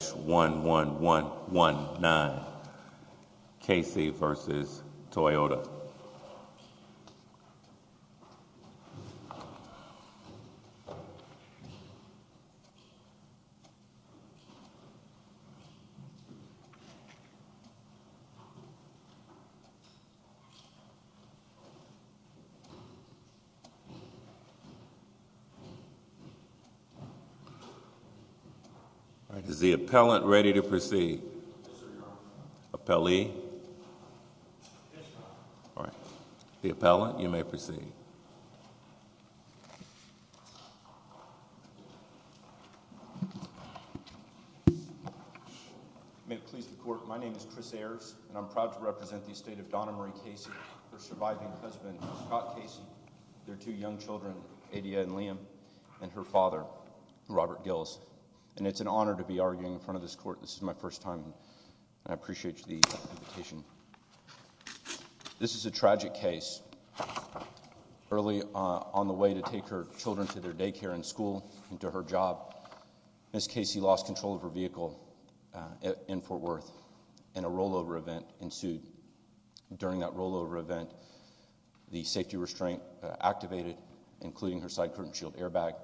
Case number H11119, Casey v. Toyota. All right, is the appellant ready to proceed? May it please the Court, my name is Chris Ayers, and I'm proud to represent the estate of Donna Marie Casey, her surviving husband, Scott Casey, their two young children, Adia and Liam, and her father, Robert Gills. And it's an honor to be arguing in front of this Court, this is my first time, and I appreciate the invitation. This is a tragic case. Early on the way to take her children to their daycare and school and to her job, Ms. Casey lost control of her vehicle in Fort Worth, and a rollover event ensued. During that rollover event, the safety restraint activated, including her side curtain shield airbag.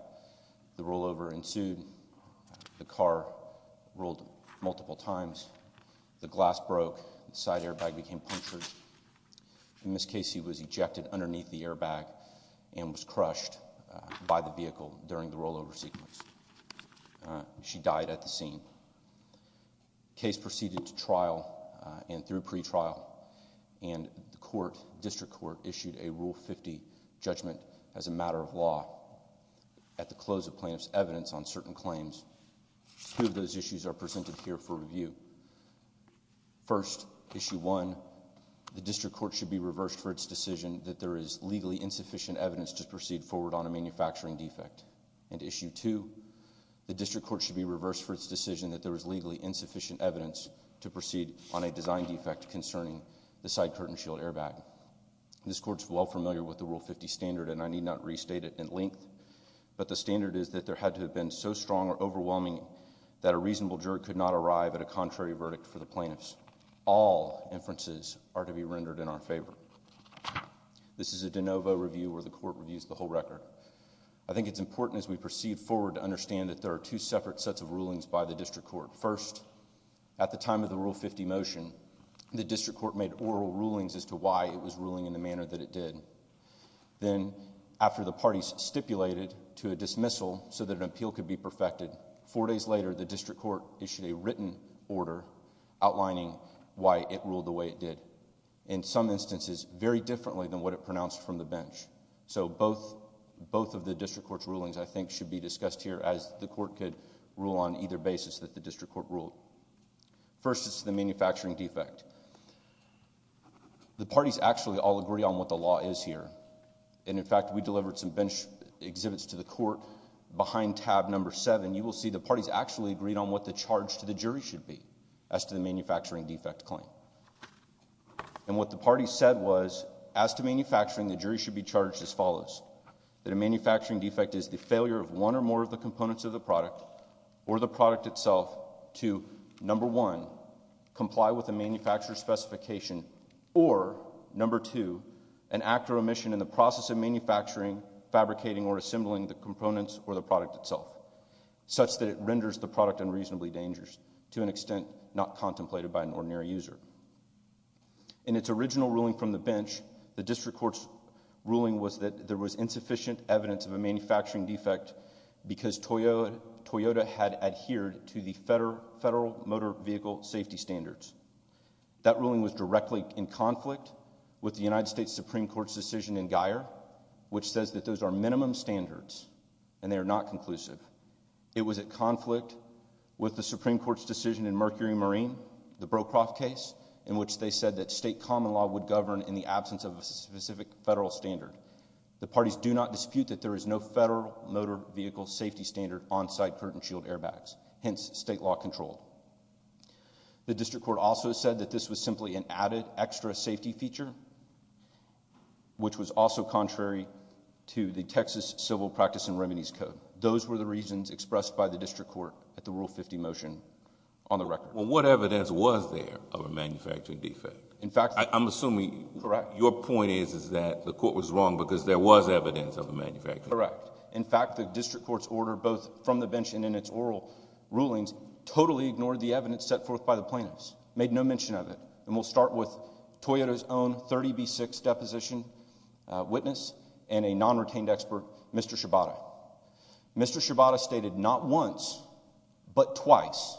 The rollover ensued, the car rolled multiple times, the glass broke, the side airbag became punctured, and Ms. Casey was ejected underneath the airbag and was crushed by the vehicle during the rollover sequence. She died at the scene. Case proceeded to trial and through pretrial, and the District Court issued a Rule 50 judgment as a matter of law. At the close of plaintiff's evidence on certain claims, two of those issues are presented here for review. First, Issue 1, the District Court should be reversed for its decision that there is legally insufficient evidence to proceed forward on a manufacturing defect. And Issue 2, the District Court should be reversed for its decision that there is legally insufficient evidence to proceed on a design defect concerning the side curtain shield airbag. This Court is well familiar with the Rule 50 standard and I need not restate it in length, but the standard is that there had to have been so strong or overwhelming that a reasonable juror could not arrive at a contrary verdict for the plaintiffs. All inferences are to be rendered in our favor. This is a de novo review where the Court reviews the whole record. I think it's important as we proceed forward to understand that there are two separate sets of rulings by the District Court. First, at the time of the Rule 50 motion, the District Court made oral rulings as to why it was ruling in the manner that it did. Then after the parties stipulated to a dismissal so that an appeal could be perfected, four days later, the District Court issued a written order outlining why it ruled the way it did. In some instances, very differently than what it pronounced from the bench. So both of the District Court's rulings, I think, should be discussed here as the Court could rule on either basis that the District Court ruled. First, it's the manufacturing defect. The parties actually all agree on what the law is here. And in fact, we delivered some bench exhibits to the Court. Behind tab number seven, you will see the parties actually agreed on what the charge to the jury should be as to the manufacturing defect claim. And what the parties said was, as to manufacturing, the jury should be charged as follows, that a manufacturing defect is the failure of one or more of the components of the product or the product itself to, number one, comply with the manufacturer's specification, or, number two, an act or omission in the process of manufacturing, fabricating, or assembling the components or the product itself, such that it renders the product unreasonably dangerous, to an extent not contemplated by an ordinary user. In its original ruling from the bench, the District Court's ruling was that there was adhered to the federal motor vehicle safety standards. That ruling was directly in conflict with the United States Supreme Court's decision in Guyer, which says that those are minimum standards and they are not conclusive. It was in conflict with the Supreme Court's decision in Mercury Marine, the Brokroft case, in which they said that state common law would govern in the absence of a specific federal standard. The parties do not dispute that there is no federal motor vehicle safety standard on-site Curtin Shield airbags, hence state law control. The District Court also said that this was simply an added extra safety feature, which was also contrary to the Texas Civil Practice and Remedies Code. Those were the reasons expressed by the District Court at the Rule 50 motion on the record. Well, what evidence was there of a manufacturing defect? In fact... I'm assuming... Correct.... your point is, is that the court was wrong because there was evidence of a manufacturing defect. Correct. In fact, the District Court's order, both from the bench and in its oral rulings, totally ignored the evidence set forth by the plaintiffs, made no mention of it. And we'll start with Toyota's own 30B6 deposition witness and a non-retained expert, Mr. Shibata. Mr. Shibata stated not once, but twice,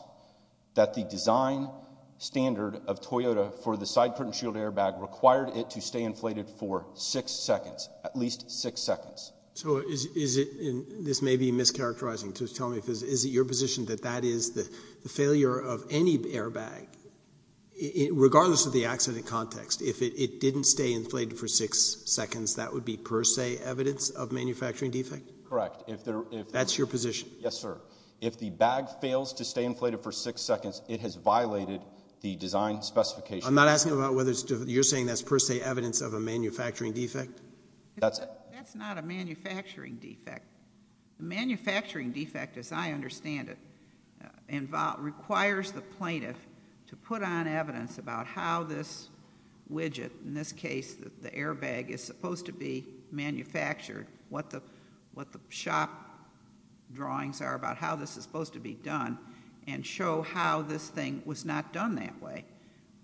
that the design standard of Toyota for the side Curtin Shield airbag required it to stay inflated for six seconds, at least six seconds. So, is it... this may be mischaracterizing to tell me, but is it your position that that is the failure of any airbag, regardless of the accident context, if it didn't stay inflated for six seconds, that would be per se evidence of manufacturing defect? Correct. If there... That's your position? Yes, sir. If the bag fails to stay inflated for six seconds, it has violated the design specification. I'm not asking about whether... you're saying that's per se evidence of a manufacturing defect? That's... It's a manufacturing defect. The manufacturing defect, as I understand it, requires the plaintiff to put on evidence about how this widget, in this case the airbag, is supposed to be manufactured, what the shop drawings are about how this is supposed to be done, and show how this thing was not done that way.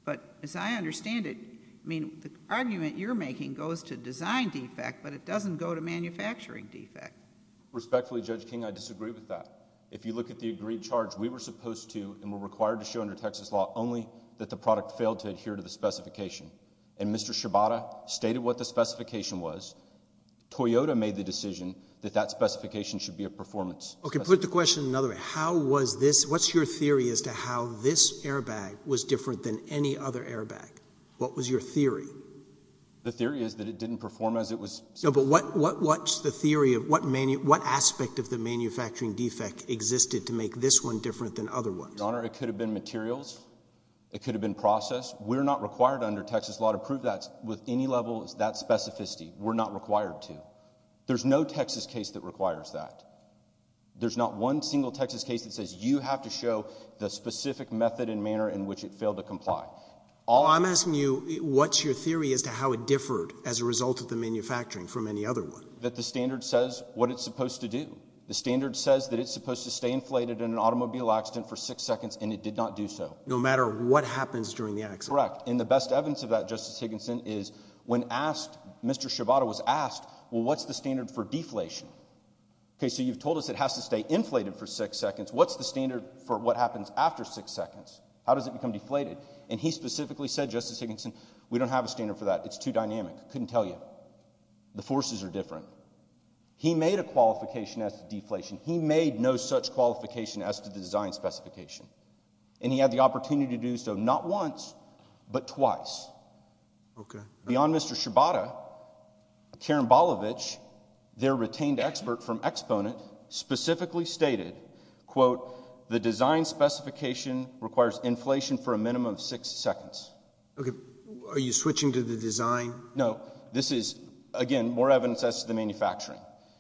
But, as I understand it, I mean, the argument you're making goes to design defect, but it is a manufacturing defect. Respectfully, Judge King, I disagree with that. If you look at the agreed charge, we were supposed to and were required to show under Texas law only that the product failed to adhere to the specification, and Mr. Shibata stated what the specification was, Toyota made the decision that that specification should be a performance... Okay. Put the question another way. What's your theory as to how this airbag was different than any other airbag? The theory is that it didn't perform as it was... No, but what's the theory of what aspect of the manufacturing defect existed to make this one different than other ones? Your Honor, it could have been materials. It could have been process. We're not required under Texas law to prove that with any level of that specificity. We're not required to. There's no Texas case that requires that. There's not one single Texas case that says you have to show the specific method and manner in which it failed to comply. All... I'm asking you what's your theory as to how it differed as a result of the manufacturing from any other one? That the standard says what it's supposed to do. The standard says that it's supposed to stay inflated in an automobile accident for six seconds and it did not do so. No matter what happens during the accident? Correct. And the best evidence of that, Justice Higginson, is when asked, Mr. Shibata was asked, well, what's the standard for deflation? Okay, so you've told us it has to stay inflated for six seconds. What's the standard for what happens after six seconds? How does it become deflated? And he specifically said, Justice Higginson, we don't have a standard for that. It's too dynamic. I couldn't tell you. The forces are different. He made a qualification as to deflation. He made no such qualification as to the design specification. And he had the opportunity to do so not once, but twice. Okay. Beyond Mr. Shibata, Karambalevich, their retained expert from Exponent, specifically stated, quote, the design specification requires inflation for a minimum of six seconds. Okay. Are you switching to the design? No. This is, again, more evidence as to the manufacturing.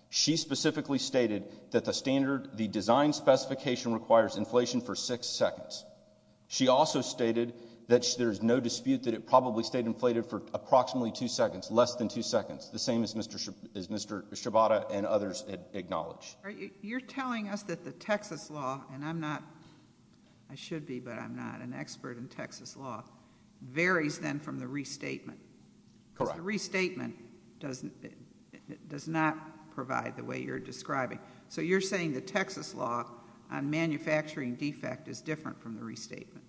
She specifically stated that the standard, the design specification requires inflation for six seconds. She also stated that there's no dispute that it probably stayed inflated for approximately two seconds, less than two seconds, the same as Mr. Shibata and others acknowledged. You're telling us that the Texas law, and I'm not, I should be, but I'm not an expert in Texas law, varies, then, from the restatement. Correct. Because the restatement doesn't, does not provide the way you're describing. So you're saying the Texas law on manufacturing defect is different from the restatement.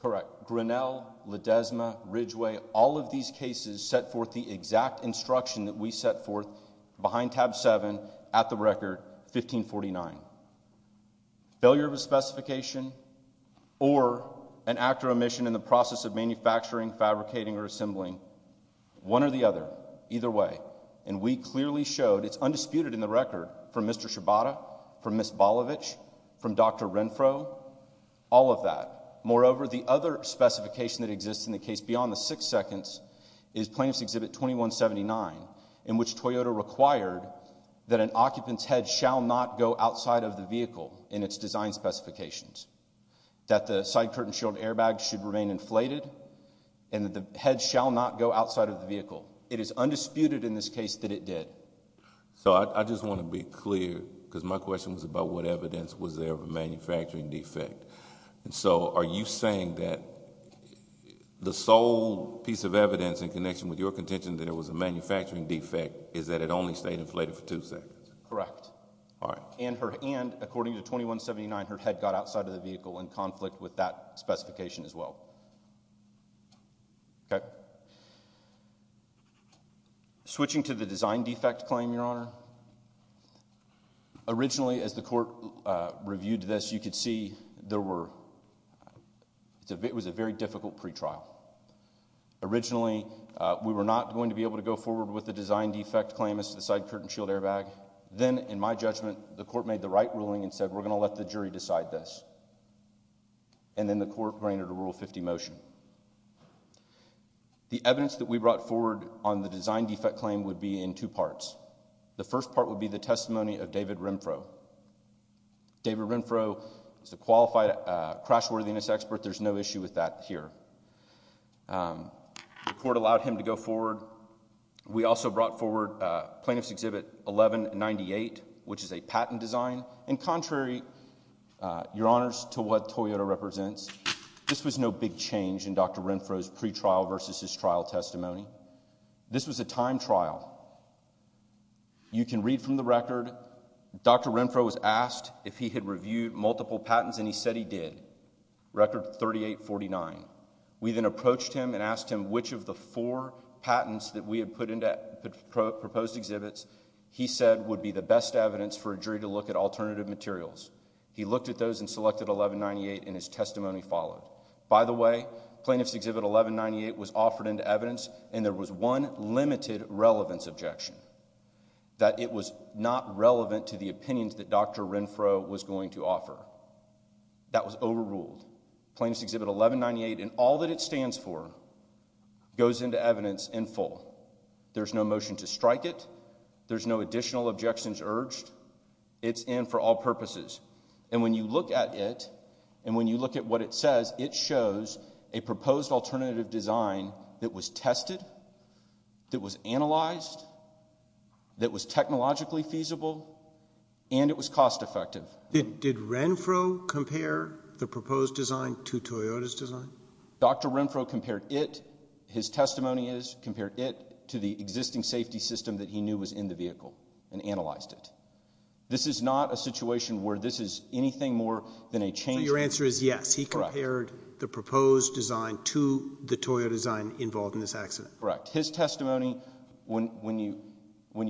Correct. Grinnell, Ledesma, Ridgeway, all of these cases set forth the exact instruction that we set forth behind tab seven at the record, 1549. Failure of a specification or an act or omission in the process of manufacturing, fabricating, or assembling, one or the other, either way. And we clearly showed, it's undisputed in the record, from Mr. Shibata, from Ms. Bolovich, from Dr. Renfro, all of that. Moreover, the other specification that exists in the case beyond the six seconds is Plaintiff's in its design specifications. That the side curtain shield airbag should remain inflated, and that the head shall not go outside of the vehicle. It is undisputed in this case that it did. So I just want to be clear, because my question was about what evidence was there of a manufacturing defect. And so, are you saying that the sole piece of evidence in connection with your contention that it was a manufacturing defect is that it only stayed inflated for two seconds? Correct. All right. And, according to 2179, her head got outside of the vehicle in conflict with that specification as well. Okay. Switching to the design defect claim, Your Honor, originally, as the court reviewed this, you could see there were, it was a very difficult pretrial. Originally, we were not going to be able to go forward with the design defect claim as to the side curtain shield airbag. Then, in my judgment, the court made the right ruling and said, we're going to let the jury decide this. And then the court granted a Rule 50 motion. The evidence that we brought forward on the design defect claim would be in two parts. The first part would be the testimony of David Renfro. David Renfro is a qualified crash worthiness expert. There's no issue with that here. The court allowed him to go forward. We also brought forward Plaintiff's Exhibit 1198, which is a patent design. In contrary, Your Honors, to what Toyota represents, this was no big change in Dr. Renfro's pretrial versus his trial testimony. This was a time trial. You can read from the record, Dr. Renfro was asked if he had reviewed multiple patents and he said he did. Record 3849. We then approached him and asked him which of the four patents that we had put into proposed exhibits he said would be the best evidence for a jury to look at alternative materials. He looked at those and selected 1198 and his testimony followed. By the way, Plaintiff's Exhibit 1198 was offered into evidence and there was one limited relevance objection that it was not relevant to the opinions that Dr. Renfro was going to offer. That was overruled. Plaintiff's Exhibit 1198 and all that it stands for goes into evidence in full. There's no motion to strike it. There's no additional objections urged. It's in for all purposes. And when you look at it, and when you look at what it says, it shows a proposed alternative design that was tested, that was analyzed, that was technologically feasible, and it was cost effective. Did Renfro compare the proposed design to Toyota's design? Dr. Renfro compared it, his testimony is, compared it to the existing safety system that he knew was in the vehicle and analyzed it. This is not a situation where this is anything more than a change. Your answer is yes, he compared the proposed design to the Toyota design involved in this accident. Correct. His testimony, when you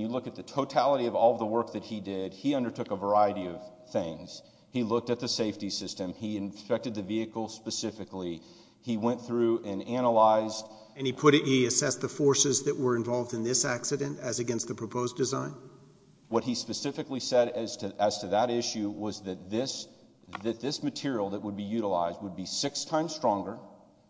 look at the totality of all the work that he did, he undertook a variety of things. He looked at the safety system, he inspected the vehicle specifically, he went through and analyzed. And he put it, he assessed the forces that were involved in this accident as against the proposed design? What he specifically said as to that issue was that this, that this material that would be utilized would be six times stronger.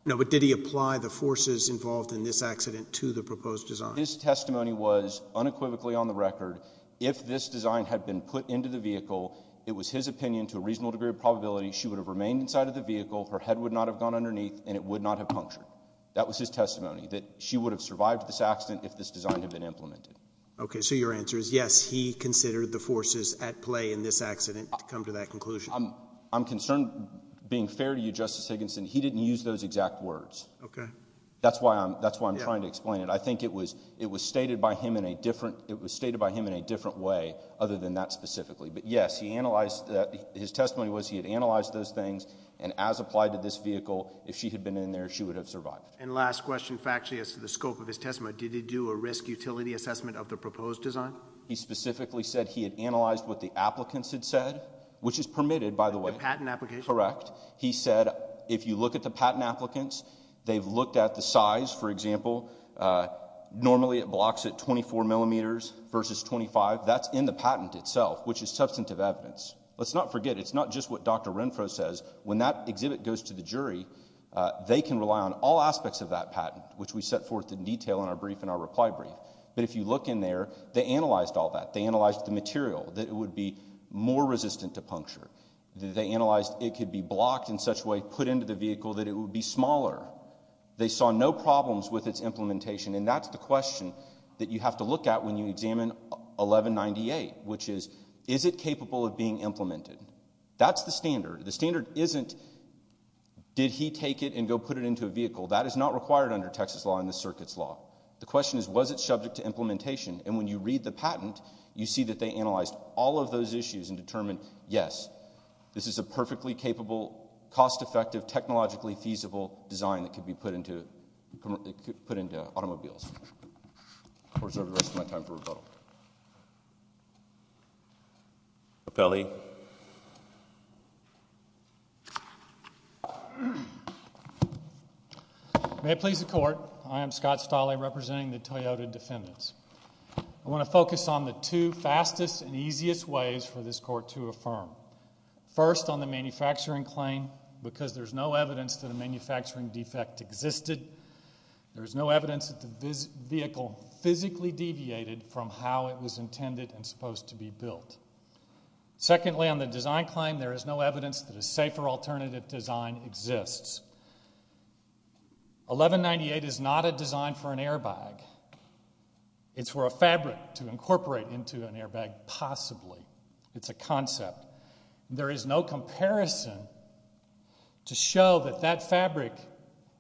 No, but did he apply the forces involved in this accident to the proposed design? His testimony was, unequivocally on the record, if this design had been put into the vehicle, it was his opinion to a reasonable degree of probability she would have remained inside of the vehicle, her head would not have gone underneath, and it would not have punctured. That was his testimony, that she would have survived this accident if this design had been implemented. Okay, so your answer is yes, he considered the forces at play in this accident to come to that conclusion. I'm concerned, being fair to you, Justice Higginson, he didn't use those exact words. That's why I'm trying to explain it. But I think it was, it was stated by him in a different, it was stated by him in a different way other than that specifically. But yes, he analyzed, his testimony was he had analyzed those things, and as applied to this vehicle, if she had been in there, she would have survived. And last question, factually as to the scope of his testimony, did he do a risk utility assessment of the proposed design? He specifically said he had analyzed what the applicants had said, which is permitted, by the way. The patent application? Correct. He said, if you look at the patent applicants, they've looked at the size, for example, normally it blocks at 24 millimeters versus 25. That's in the patent itself, which is substantive evidence. Let's not forget, it's not just what Dr. Renfro says, when that exhibit goes to the jury, they can rely on all aspects of that patent, which we set forth in detail in our brief and our reply brief. But if you look in there, they analyzed all that. They analyzed the material, that it would be more resistant to puncture. They analyzed it could be blocked in such a way, put into the vehicle, that it would be smaller. They saw no problems with its implementation, and that's the question that you have to look at when you examine 1198, which is, is it capable of being implemented? That's the standard. The standard isn't, did he take it and go put it into a vehicle? That is not required under Texas law and the circuit's law. The question is, was it subject to implementation? And when you read the patent, you see that they analyzed all of those issues and determined, yes, this is a perfectly capable, cost-effective, technologically feasible design that could be put into automobiles. I'll reserve the rest of my time for rebuttal. Raffelli? May it please the Court, I am Scott Stolle, representing the Toyota defendants. I want to focus on the two fastest and easiest ways for this Court to affirm. First on the manufacturing claim, because there's no evidence that a manufacturing defect existed. There is no evidence that the vehicle physically deviated from how it was intended and supposed to be built. Secondly, on the design claim, there is no evidence that a safer alternative design exists. 1198 is not a design for an airbag. It's for a fabric to incorporate into an airbag, possibly. It's a concept. There is no comparison to show that that fabric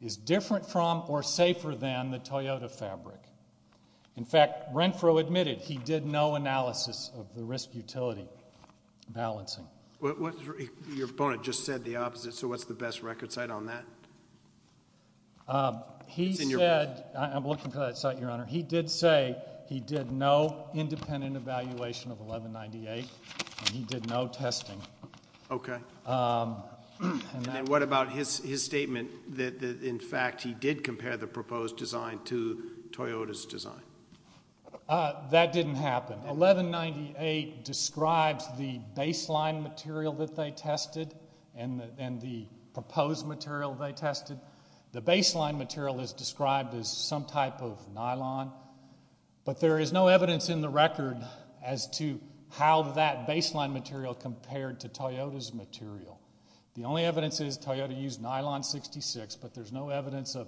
is different from or safer than the Toyota fabric. In fact, Renfro admitted he did no analysis of the risk-utility balancing. Your opponent just said the opposite, so what's the best record site on that? He said, I'm looking for that site, Your Honor. He did say he did no independent evaluation of 1198, and he did no testing. Okay. And what about his statement that, in fact, he did compare the proposed design to Toyota's design? That didn't happen. 1198 describes the baseline material that they tested and the proposed material they tested. The baseline material is described as some type of nylon, but there is no evidence in the record as to how that baseline material compared to Toyota's material. The only evidence is Toyota used nylon 66, but there's no evidence of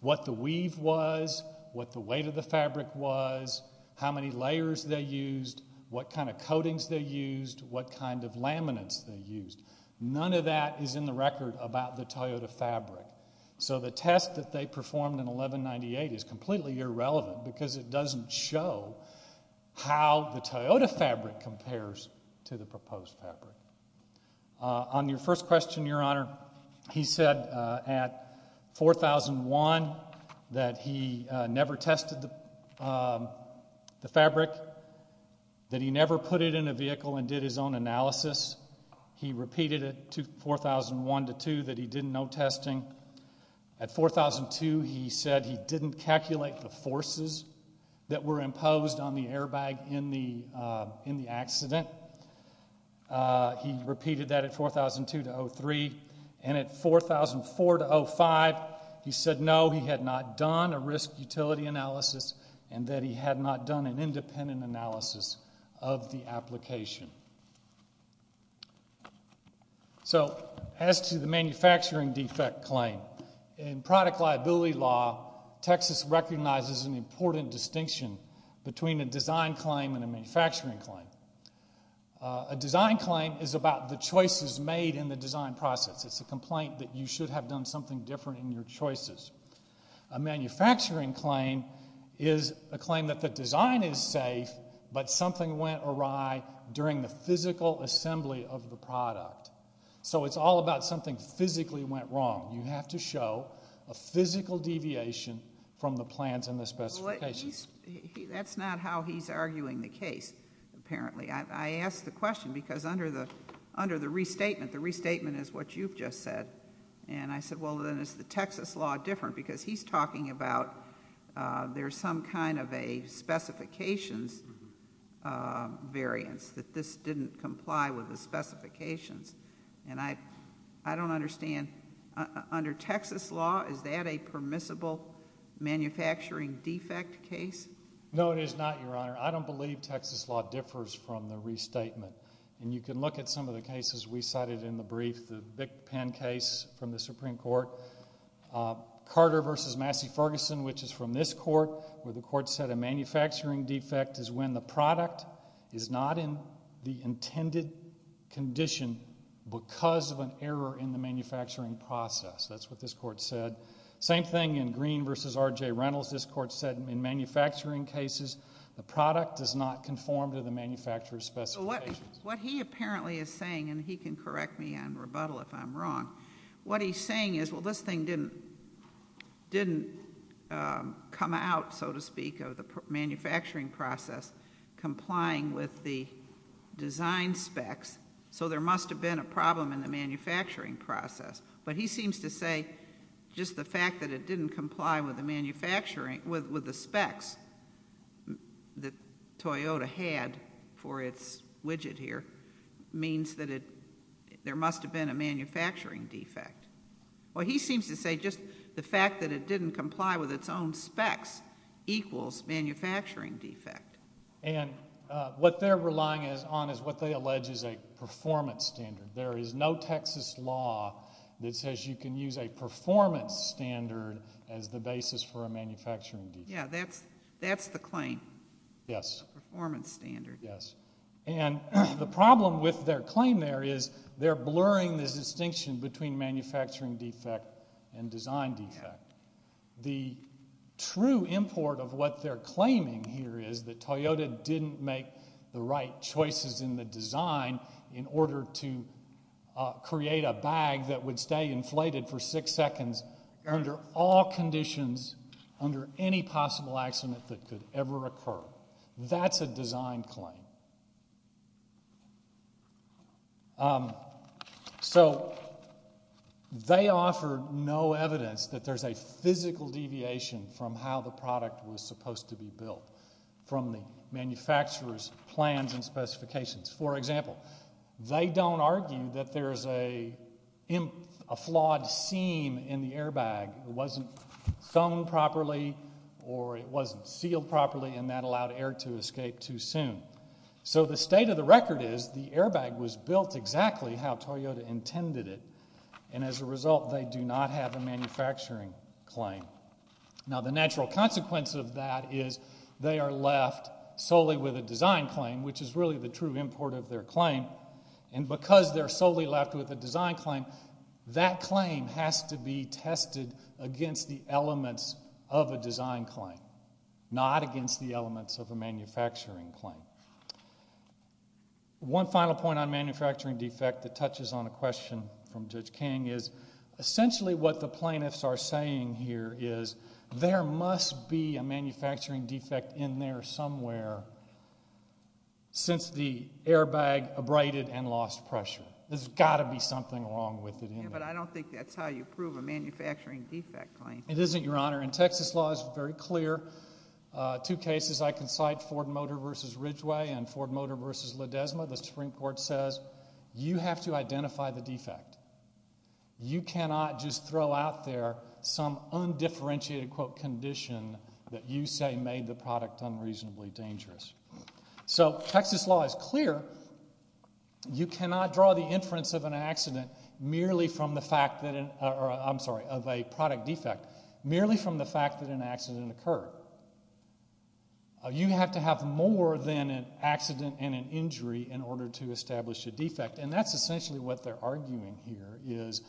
what the weave was, what the weight of the fabric was, how many layers they used, what kind of coatings they used, what kind of laminates they used. None of that is in the record about the Toyota fabric. So the test that they performed in 1198 is completely irrelevant because it doesn't show how the Toyota fabric compares to the proposed fabric. On your first question, Your Honor, he said at 4001 that he never tested the fabric, that he never put it in a vehicle and did his own analysis. He repeated it to 4001-2 that he did no testing. At 4002, he said he didn't calculate the forces that were imposed on the airbag in the accident. He repeated that at 4002-03, and at 4004-05, he said no, he had not done a risk utility analysis and that he had not done an independent analysis of the application. So as to the manufacturing defect claim, in product liability law, Texas recognizes an manufacturing claim. A design claim is about the choices made in the design process. It's a complaint that you should have done something different in your choices. A manufacturing claim is a claim that the design is safe, but something went awry during the physical assembly of the product. So it's all about something physically went wrong. You have to show a physical deviation from the plans and the specifications. Well, that's not how he's arguing the case, apparently. I asked the question because under the restatement, the restatement is what you've just said, and I said, well, then is the Texas law different? Because he's talking about there's some kind of a specifications variance that this didn't comply with the specifications, and I don't understand. Under Texas law, is that a permissible manufacturing defect case? No, it is not, Your Honor. I don't believe Texas law differs from the restatement, and you can look at some of the cases we cited in the brief, the Vic Penn case from the Supreme Court, Carter v. Massey Ferguson, which is from this court, where the court said a manufacturing defect is when the product is not in the intended condition because of an error in the manufacturing process. That's what this court said. Same thing in Green v. R.J. Reynolds. This court said in manufacturing cases, the product does not conform to the manufacturer's specifications. What he apparently is saying, and he can correct me on rebuttal if I'm wrong, what he's saying is, well, this thing didn't come out, so to speak, of the manufacturing process complying with the design specs, so there must have been a problem in the manufacturing process. But he seems to say just the fact that it didn't comply with the specs that Toyota had for its widget here means that there must have been a manufacturing defect. Well, he seems to say just the fact that it didn't comply with its own specs equals manufacturing defect. And what they're relying on is what they allege is a performance standard. There is no Texas law that says you can use a performance standard as the basis for a manufacturing defect. Yeah, that's the claim. Yes. Performance standard. Yes. And the problem with their claim there is they're blurring this distinction between manufacturing defect and design defect. The true import of what they're claiming here is that Toyota didn't make the right choices in the design in order to create a bag that would stay inflated for six seconds under all conditions, under any possible accident that could ever occur. That's a design claim. So they offered no evidence that there's a physical deviation from how the product was supposed to be built from the manufacturer's plans and specifications. For example, they don't argue that there's a flawed seam in the airbag. It wasn't sewn properly or it wasn't sealed properly and that allowed air to escape too soon. So the state of the record is the airbag was built exactly how Toyota intended it. And as a result, they do not have a manufacturing claim. Now the natural consequence of that is they are left solely with a design claim, which is really the true import of their claim. And because they're solely left with a design claim, that claim has to be tested against the elements of a design claim, not against the elements of a manufacturing claim. One final point on manufacturing defect that touches on a question from Judge King is essentially what the plaintiffs are saying here is there must be a manufacturing defect in there somewhere since the airbag abraded and lost pressure. There's got to be something wrong with it. Yeah, but I don't think that's how you prove a manufacturing defect claim. It isn't, Your Honor. And Texas law is very clear. Two cases I can cite, Ford Motor v. Ridgeway and Ford Motor v. Ledesma, the Supreme Court says you have to identify the defect. You cannot just throw out there some undifferentiated, quote, condition that you say made the product unreasonably dangerous. So Texas law is clear. You cannot draw the inference of an accident merely from the fact that, or I'm sorry, of a product defect merely from the fact that an accident occurred. You have to have more than an accident and an injury in order to establish a defect. And that's essentially what they're arguing here is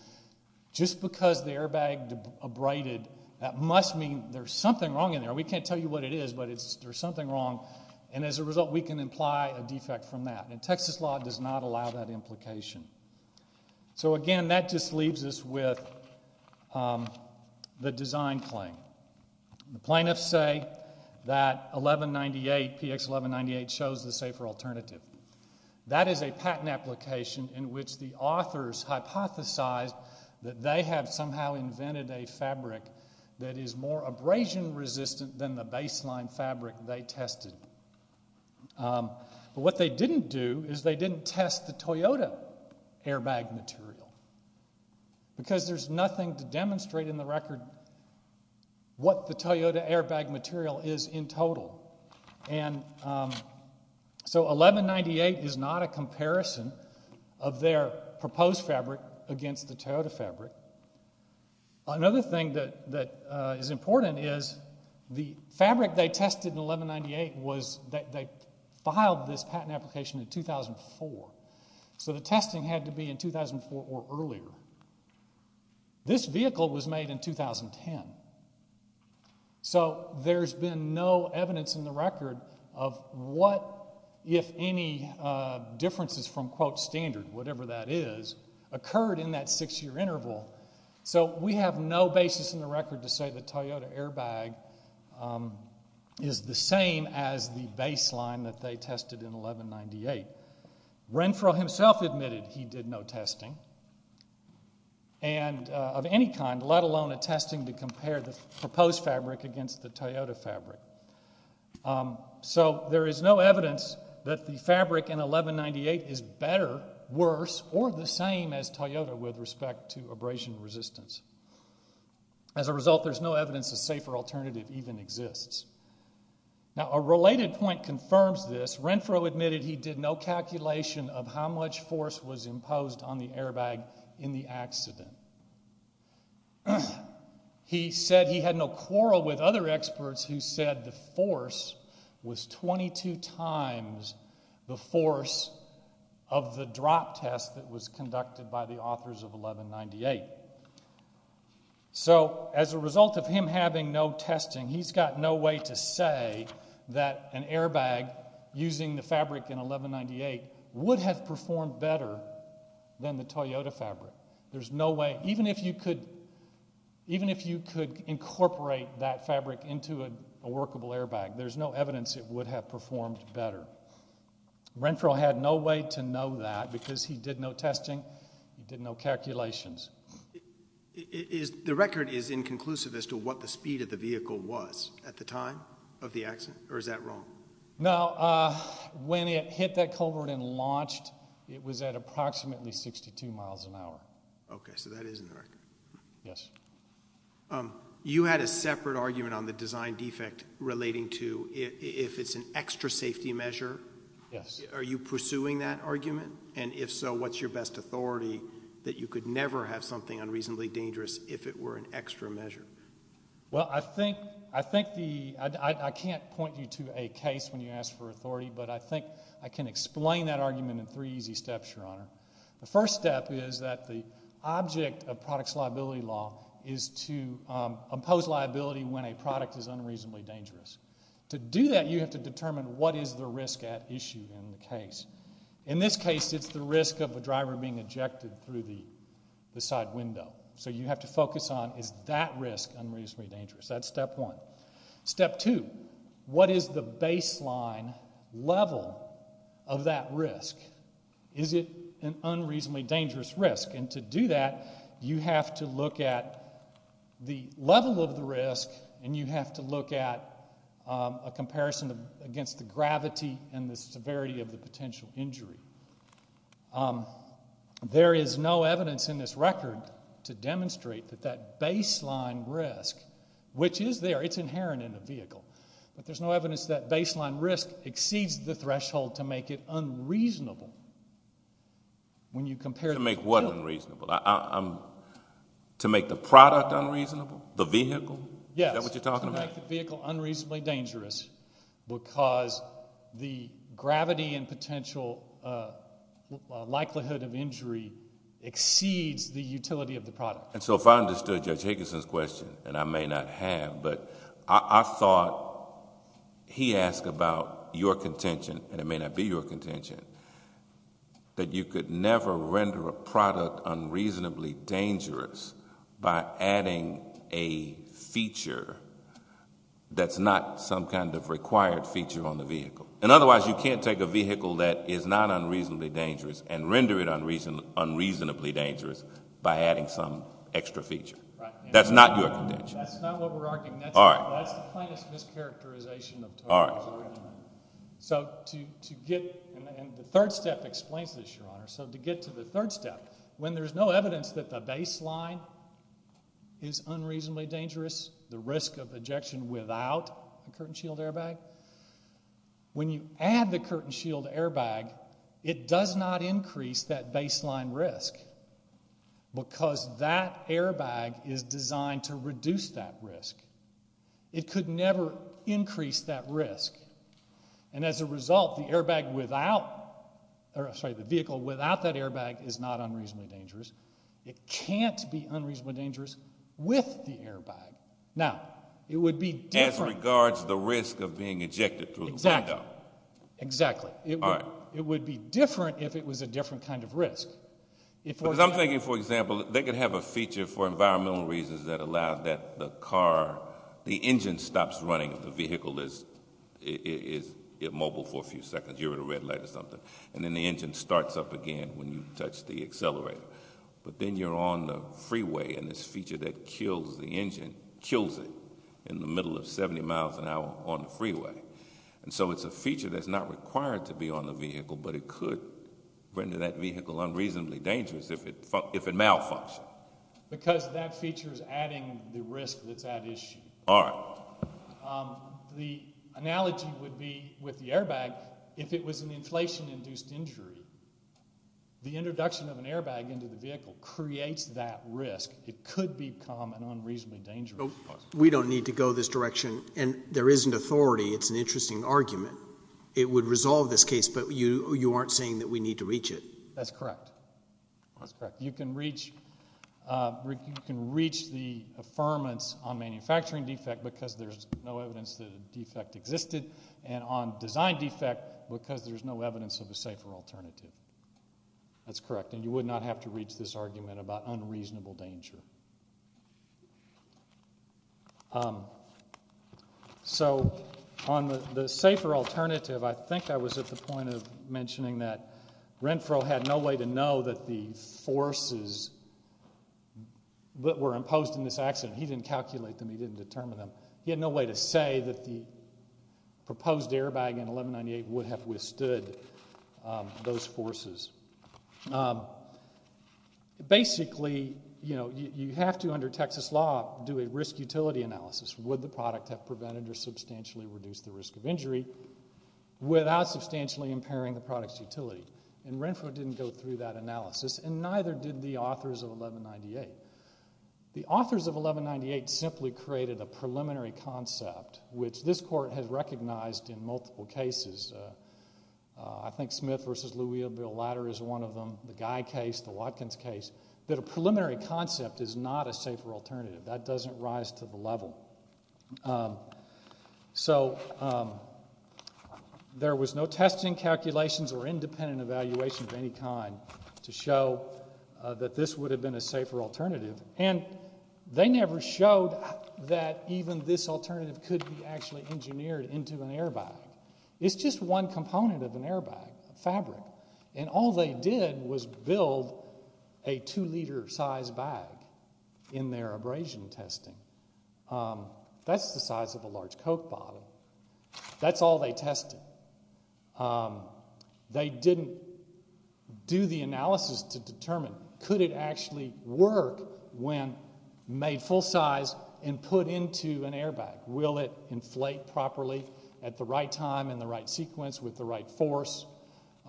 just because the airbag abraded, that must mean there's something wrong in there. We can't tell you what it is, but there's something wrong. And as a result, we can imply a defect from that. And Texas law does not allow that implication. So again, that just leaves us with the design claim. The plaintiffs say that 1198, PX 1198 shows the safer alternative. That is a patent application in which the authors hypothesized that they have somehow invented a fabric that is more abrasion resistant than the baseline fabric they tested. What they didn't do is they didn't test the Toyota airbag material. Because there's nothing to demonstrate in the record what the Toyota airbag material is in total. And so 1198 is not a comparison of their proposed fabric against the Toyota fabric. Another thing that is important is the fabric they tested in 1198 was that they filed this patent application in 2004. So the testing had to be in 2004 or earlier. This vehicle was made in 2010. So there's been no evidence in the record of what, if any, differences from quote standard, whatever that is, occurred in that six-year interval. So we have no basis in the record to say the Toyota airbag is the same as the baseline that they tested in 1198. Renfro himself admitted he did no testing. And of any kind, let alone a testing to compare the proposed fabric against the Toyota fabric. So there is no evidence that the fabric in 1198 is better, worse, or the same as Toyota with respect to abrasion resistance. As a result, there's no evidence a safer alternative even exists. Now a related point confirms this. Renfro admitted he did no calculation of how much force was imposed on the airbag in the accident. He said he had no quarrel with other experts who said the force was 22 times the force of the drop test that was conducted by the authors of 1198. So as a result of him having no testing, he's got no way to say that an airbag using the fabric in 1198 would have performed better than the Toyota fabric. There's no way, even if you could incorporate that fabric into a workable airbag, there's no evidence it would have performed better. Renfro had no way to know that because he did no testing, he did no calculations. The record is inconclusive as to what the speed of the vehicle was at the time of the accident, or is that wrong? No, when it hit that culvert and launched, it was at approximately 62 miles an hour. Okay, so that is in the record. Yes. You had a separate argument on the design defect relating to if it's an extra safety measure. Yes. Are you pursuing that argument? And if so, what's your best authority that you could never have something unreasonably dangerous if it were an extra measure? Well, I think the, I can't point you to a case when you ask for authority, but I think I can explain that argument in three easy steps, Your Honor. The first step is that the object of product's liability law is to impose liability when a product is unreasonably dangerous. To do that, you have to determine what is the risk at issue in the case. In this case, it's the risk of a driver being ejected through the side window. So you have to focus on, is that risk unreasonably dangerous? That's step one. Step two, what is the baseline level of that risk? Is it an unreasonably dangerous risk? And to do that, you have to look at the level of the risk and you have to look at a comparison against the gravity and the severity of the potential injury. There is no evidence in this record to demonstrate that that baseline risk, which is there, it's inherent in the vehicle, but there's no evidence that baseline risk exceeds the threshold to make it unreasonable when you compare... To make what unreasonable? To make the product unreasonable? The vehicle? Yes. Is that what you're talking about? To make the vehicle unreasonably dangerous because the gravity and potential likelihood of injury exceeds the utility of the product. And so if I understood Judge Higginson's question, and I may not have, but I thought he asked about your contention, and it may not be your contention, that you could never render a product unreasonably dangerous by adding a feature that's not some kind of required feature on the vehicle. And otherwise, you can't take a vehicle that is not unreasonably dangerous and render it unreasonably dangerous by adding some extra feature. That's not your contention. That's not what we're arguing. All right. That's the plainest mischaracterization of total injury. So to get... and the third step explains this, Your Honor. So to get to the third step, when there's no evidence that the baseline is unreasonably dangerous, the risk of ejection without a curtain shield airbag, when you add the curtain shield airbag, it does not increase that baseline risk because that airbag is designed to reduce that risk. It could never increase that risk. And as a result, the airbag without... sorry, the vehicle without that airbag is not unreasonably dangerous. It can't be unreasonably dangerous with the airbag. Now, it would be different... As regards the risk of being ejected through the window. Exactly. Exactly. All right. It would be different if it was a different kind of risk. Because I'm thinking, for example, they could have a feature for environmental reasons that allows that the car... the engine stops running if the vehicle is immobile for a few seconds. You're at a red light or something. And then the engine starts up again when you touch the accelerator. But then you're on the freeway, and this feature that kills the engine kills it in the middle of 70 miles an hour on the freeway. And so it's a feature that's not required to be on the vehicle, but it could render that vehicle unreasonably dangerous if it malfunctioned. Because that feature is adding the risk that's at issue. All right. The analogy would be with the airbag, if it was an inflation-induced injury, the introduction of an airbag into the vehicle creates that risk. It could become an unreasonably dangerous cause. We don't need to go this direction, and there isn't authority. It's an interesting argument. It would resolve this case, but you aren't saying that we need to reach it. That's correct. That's correct. You can reach the affirmance on manufacturing defect because there's no evidence that a defect existed, and on design defect because there's no evidence of a safer alternative. That's correct. And you would not have to reach this argument about unreasonable danger. So on the safer alternative, I think I was at the point of mentioning that Renfro had no way to know that the forces that were imposed in this accident, he didn't calculate them, he didn't determine them. He had no way to say that the proposed airbag in 1198 would have withstood those forces. Basically, you know, you have to, under Texas law, do a risk-utility analysis. Would the product have prevented or substantially reduced the risk of injury without substantially impairing the product's utility? And Renfro didn't go through that analysis, and neither did the authors of 1198. The authors of 1198 simply created a preliminary concept, which this Court has recognized in multiple cases. I think Smith v. Louisville-Ladder is one of them, the Guy case, the Watkins case, that a preliminary concept is not a safer alternative. That doesn't rise to the level. So there was no testing calculations or independent evaluation of any kind to show that this would have been a safer alternative, and they never showed that even this alternative could be actually engineered into an airbag. It's just one component of an airbag, a fabric, and all they did was build a two-liter size bag in their abrasion testing. That's the size of a large Coke bottle. That's all they tested. They didn't do the analysis to determine, could it actually work when made full size and put into an airbag? Will it inflate properly at the right time in the right sequence with the right force?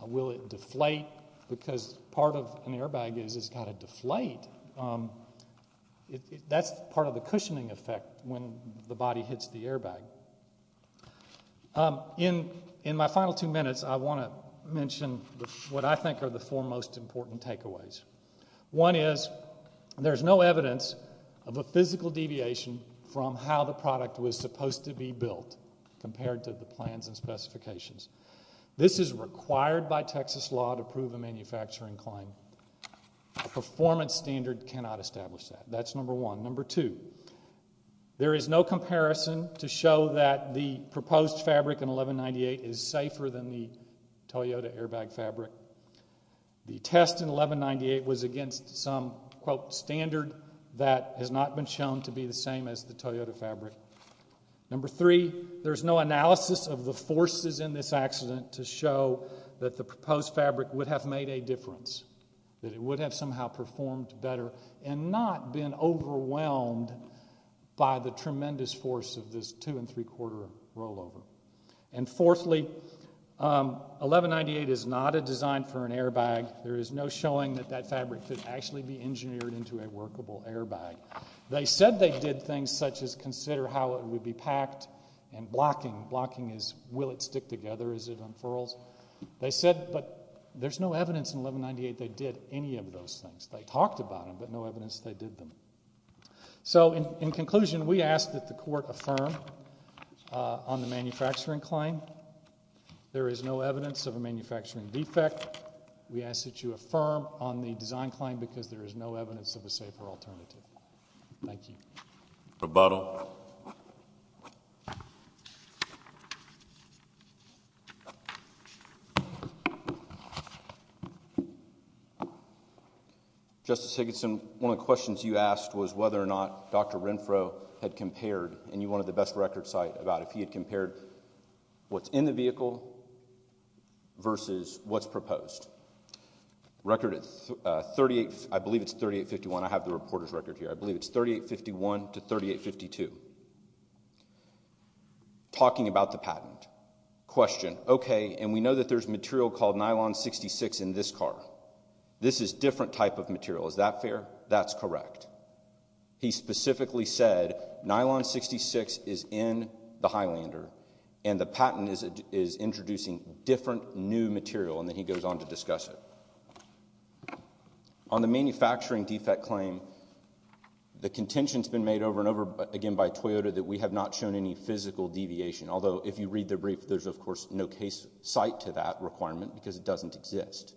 Will it deflate? Because part of an airbag is it's got to deflate. That's part of the cushioning effect when the body hits the airbag. In my final two minutes, I want to mention what I think are the four most important takeaways. One is there's no evidence of a physical deviation from how the product was supposed to be built compared to the plans and specifications. This is required by Texas law to prove a manufacturing claim. A performance standard cannot establish that. That's number one. Number two, there is no comparison to show that the proposed fabric in 1198 is safer than the Toyota airbag fabric. The test in 1198 was against some, quote, standard that has not been shown to be the same as the Toyota fabric. Number three, there's no analysis of the forces in this accident to show that the proposed fabric would have made a difference, that it would have somehow performed better and not been overwhelmed by the tremendous force of this two and three quarter rollover. And fourthly, 1198 is not a design for an airbag. There is no showing that that fabric could actually be engineered into a workable airbag. They said they did things such as consider how it would be packed and blocking. Blocking is, will it stick together as it unfurls? They said, but there's no evidence in 1198 they did any of those things. They talked about them, but no evidence they did them. So in conclusion, we ask that the court affirm on the manufacturing claim there is no evidence of a manufacturing defect. We ask that you affirm on the design claim because there is no evidence of a safer alternative. Thank you. Rebuttal. Justice Higginson, one of the questions you asked was whether or not Dr. Renfro had compared, and you wanted the best record site about if he had compared what's in the vehicle versus what's proposed. Record at 38, I believe it's 3851, I have the reporter's record here, I believe it's 3851 to 3852. Talking about the patent, question, okay, and we know that there's material called nylon 66 in this car. This is different type of material, is that fair? That's correct. He specifically said nylon 66 is in the Highlander and the patent is introducing different new material, and then he goes on to discuss it. On the manufacturing defect claim, the contention has been made over and over again by Toyota that we have not shown any physical deviation, although if you read the brief, there's of course no case site to that requirement because it doesn't exist,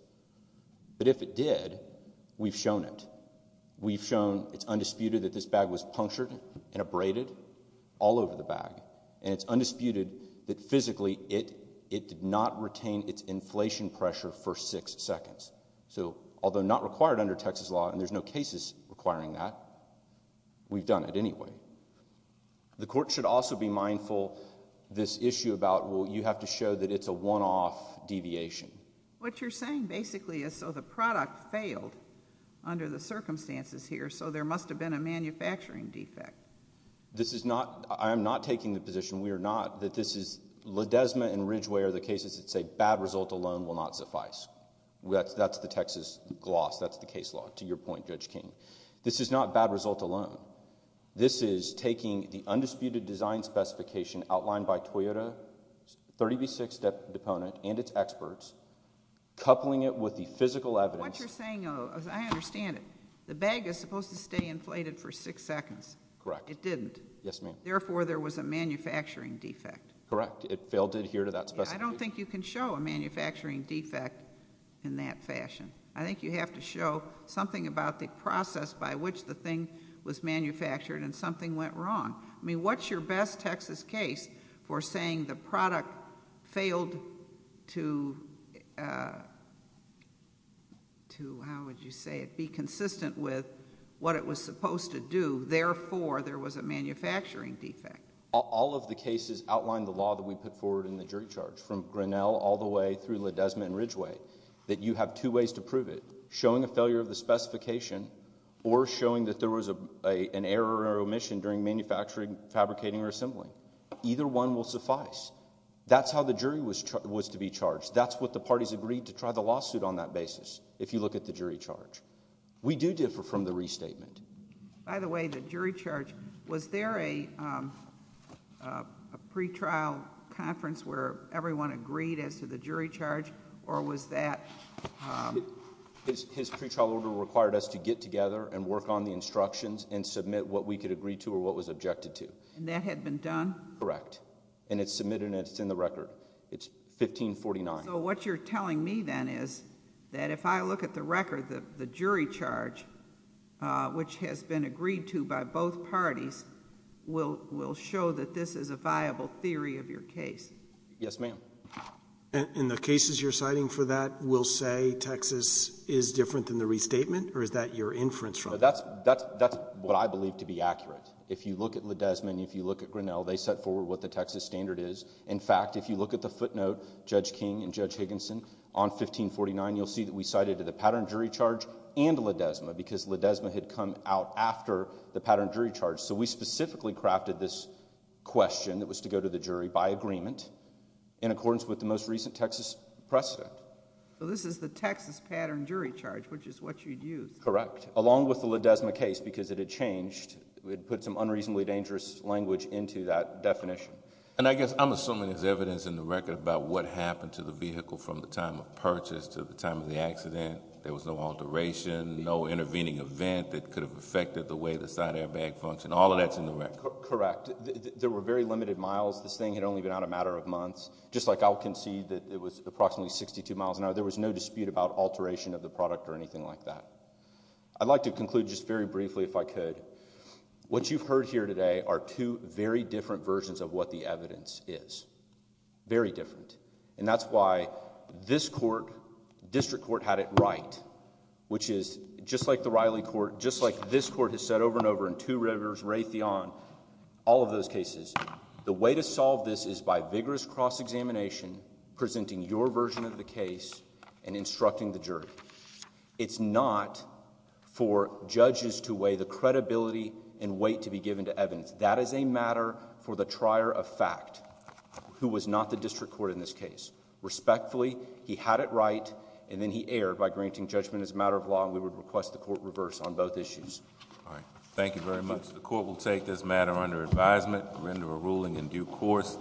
but if it did, we've shown it. We've shown it's undisputed that this bag was punctured and abraded all over the bag, and it's undisputed that physically it did not retain its inflation pressure for six seconds. So, although not required under Texas law, and there's no cases requiring that, we've done it anyway. The court should also be mindful this issue about, well, you have to show that it's a one-off deviation. What you're saying basically is so the product failed under the circumstances here, so there must have been a manufacturing defect. This is not... I am not taking the position, we are not, that this is... Ledesma and Ridgeway are the cases that say bad result alone will not suffice. That's the Texas gloss, that's the case law, to your point, Judge King. This is not bad result alone. This is taking the undisputed design specification outlined by Toyota's 30B6 deponent and its experts, coupling it with the physical evidence... What you're saying, though, I understand it. The bag is supposed to stay inflated for six seconds. Correct. It didn't. Yes, ma'am. Therefore, there was a manufacturing defect. Correct. It failed to adhere to that specification. I don't think you can show a manufacturing defect in that fashion. I think you have to show something about the process by which the thing was manufactured and something went wrong. I mean, what's your best Texas case for saying the product failed to, how would you say it, be consistent with what it was supposed to do, therefore, there was a manufacturing defect? All of the cases outline the law that we put forward in the jury charge, from Grinnell all the way through Ledesma and Ridgeway, that you have two ways to prove it. Showing a failure of the specification or showing that there was an error or omission during manufacturing, fabricating, or assembling. Either one will suffice. That's how the jury was to be charged. That's what the parties agreed to try the lawsuit on that basis, if you look at the We do differ from the restatement. By the way, the jury charge, was there a pre-trial conference where everyone agreed as to the jury charge or was that? His pre-trial order required us to get together and work on the instructions and submit what we could agree to or what was objected to. And that had been done? Correct. And it's submitted and it's in the record. It's 1549. So what you're telling me then is that if I look at the record, the jury charge, which has been agreed to by both parties, will show that this is a viable theory of your case? Yes, ma'am. And the cases you're citing for that will say Texas is different than the restatement or is that your inference from that? That's what I believe to be accurate. If you look at Ledesma and if you look at Grinnell, they set forward what the Texas standard is. In fact, if you look at the footnote, Judge King and Judge Higginson, on 1549, you'll see that we cited the pattern jury charge and Ledesma because Ledesma had come out after the pattern jury charge. So we specifically crafted this question that was to go to the jury by agreement in accordance with the most recent Texas precedent. So this is the Texas pattern jury charge, which is what you'd use? Correct. Along with the Ledesma case because it had changed, we had put some unreasonably dangerous language into that definition. And I guess I'm assuming there's evidence in the record about what happened to the vehicle from the time of purchase to the time of the accident. There was no alteration, no intervening event that could have affected the way the side airbag functioned. All of that's in the record. Correct. There were very limited miles. This thing had only been out a matter of months. Just like I'll concede that it was approximately 62 miles an hour. There was no dispute about alteration of the product or anything like that. I'd like to conclude just very briefly if I could. What you've heard here today are two very different versions of what the evidence is. Very different. And that's why this court, district court, had it right. Which is just like the Riley court, just like this court has said over and over in Two Rivers, Raytheon, all of those cases. The way to solve this is by vigorous cross-examination, presenting your version of the case and instructing the jury. It's not for judges to weigh the credibility and weight to be given to evidence. That is a matter for the trier of fact, who was not the district court in this case. Respectfully, he had it right and then he erred by granting judgment as a matter of law and we would request the court reverse on both issues. All right. Thank you very much. The court will take this matter under advisement, render a ruling in due course.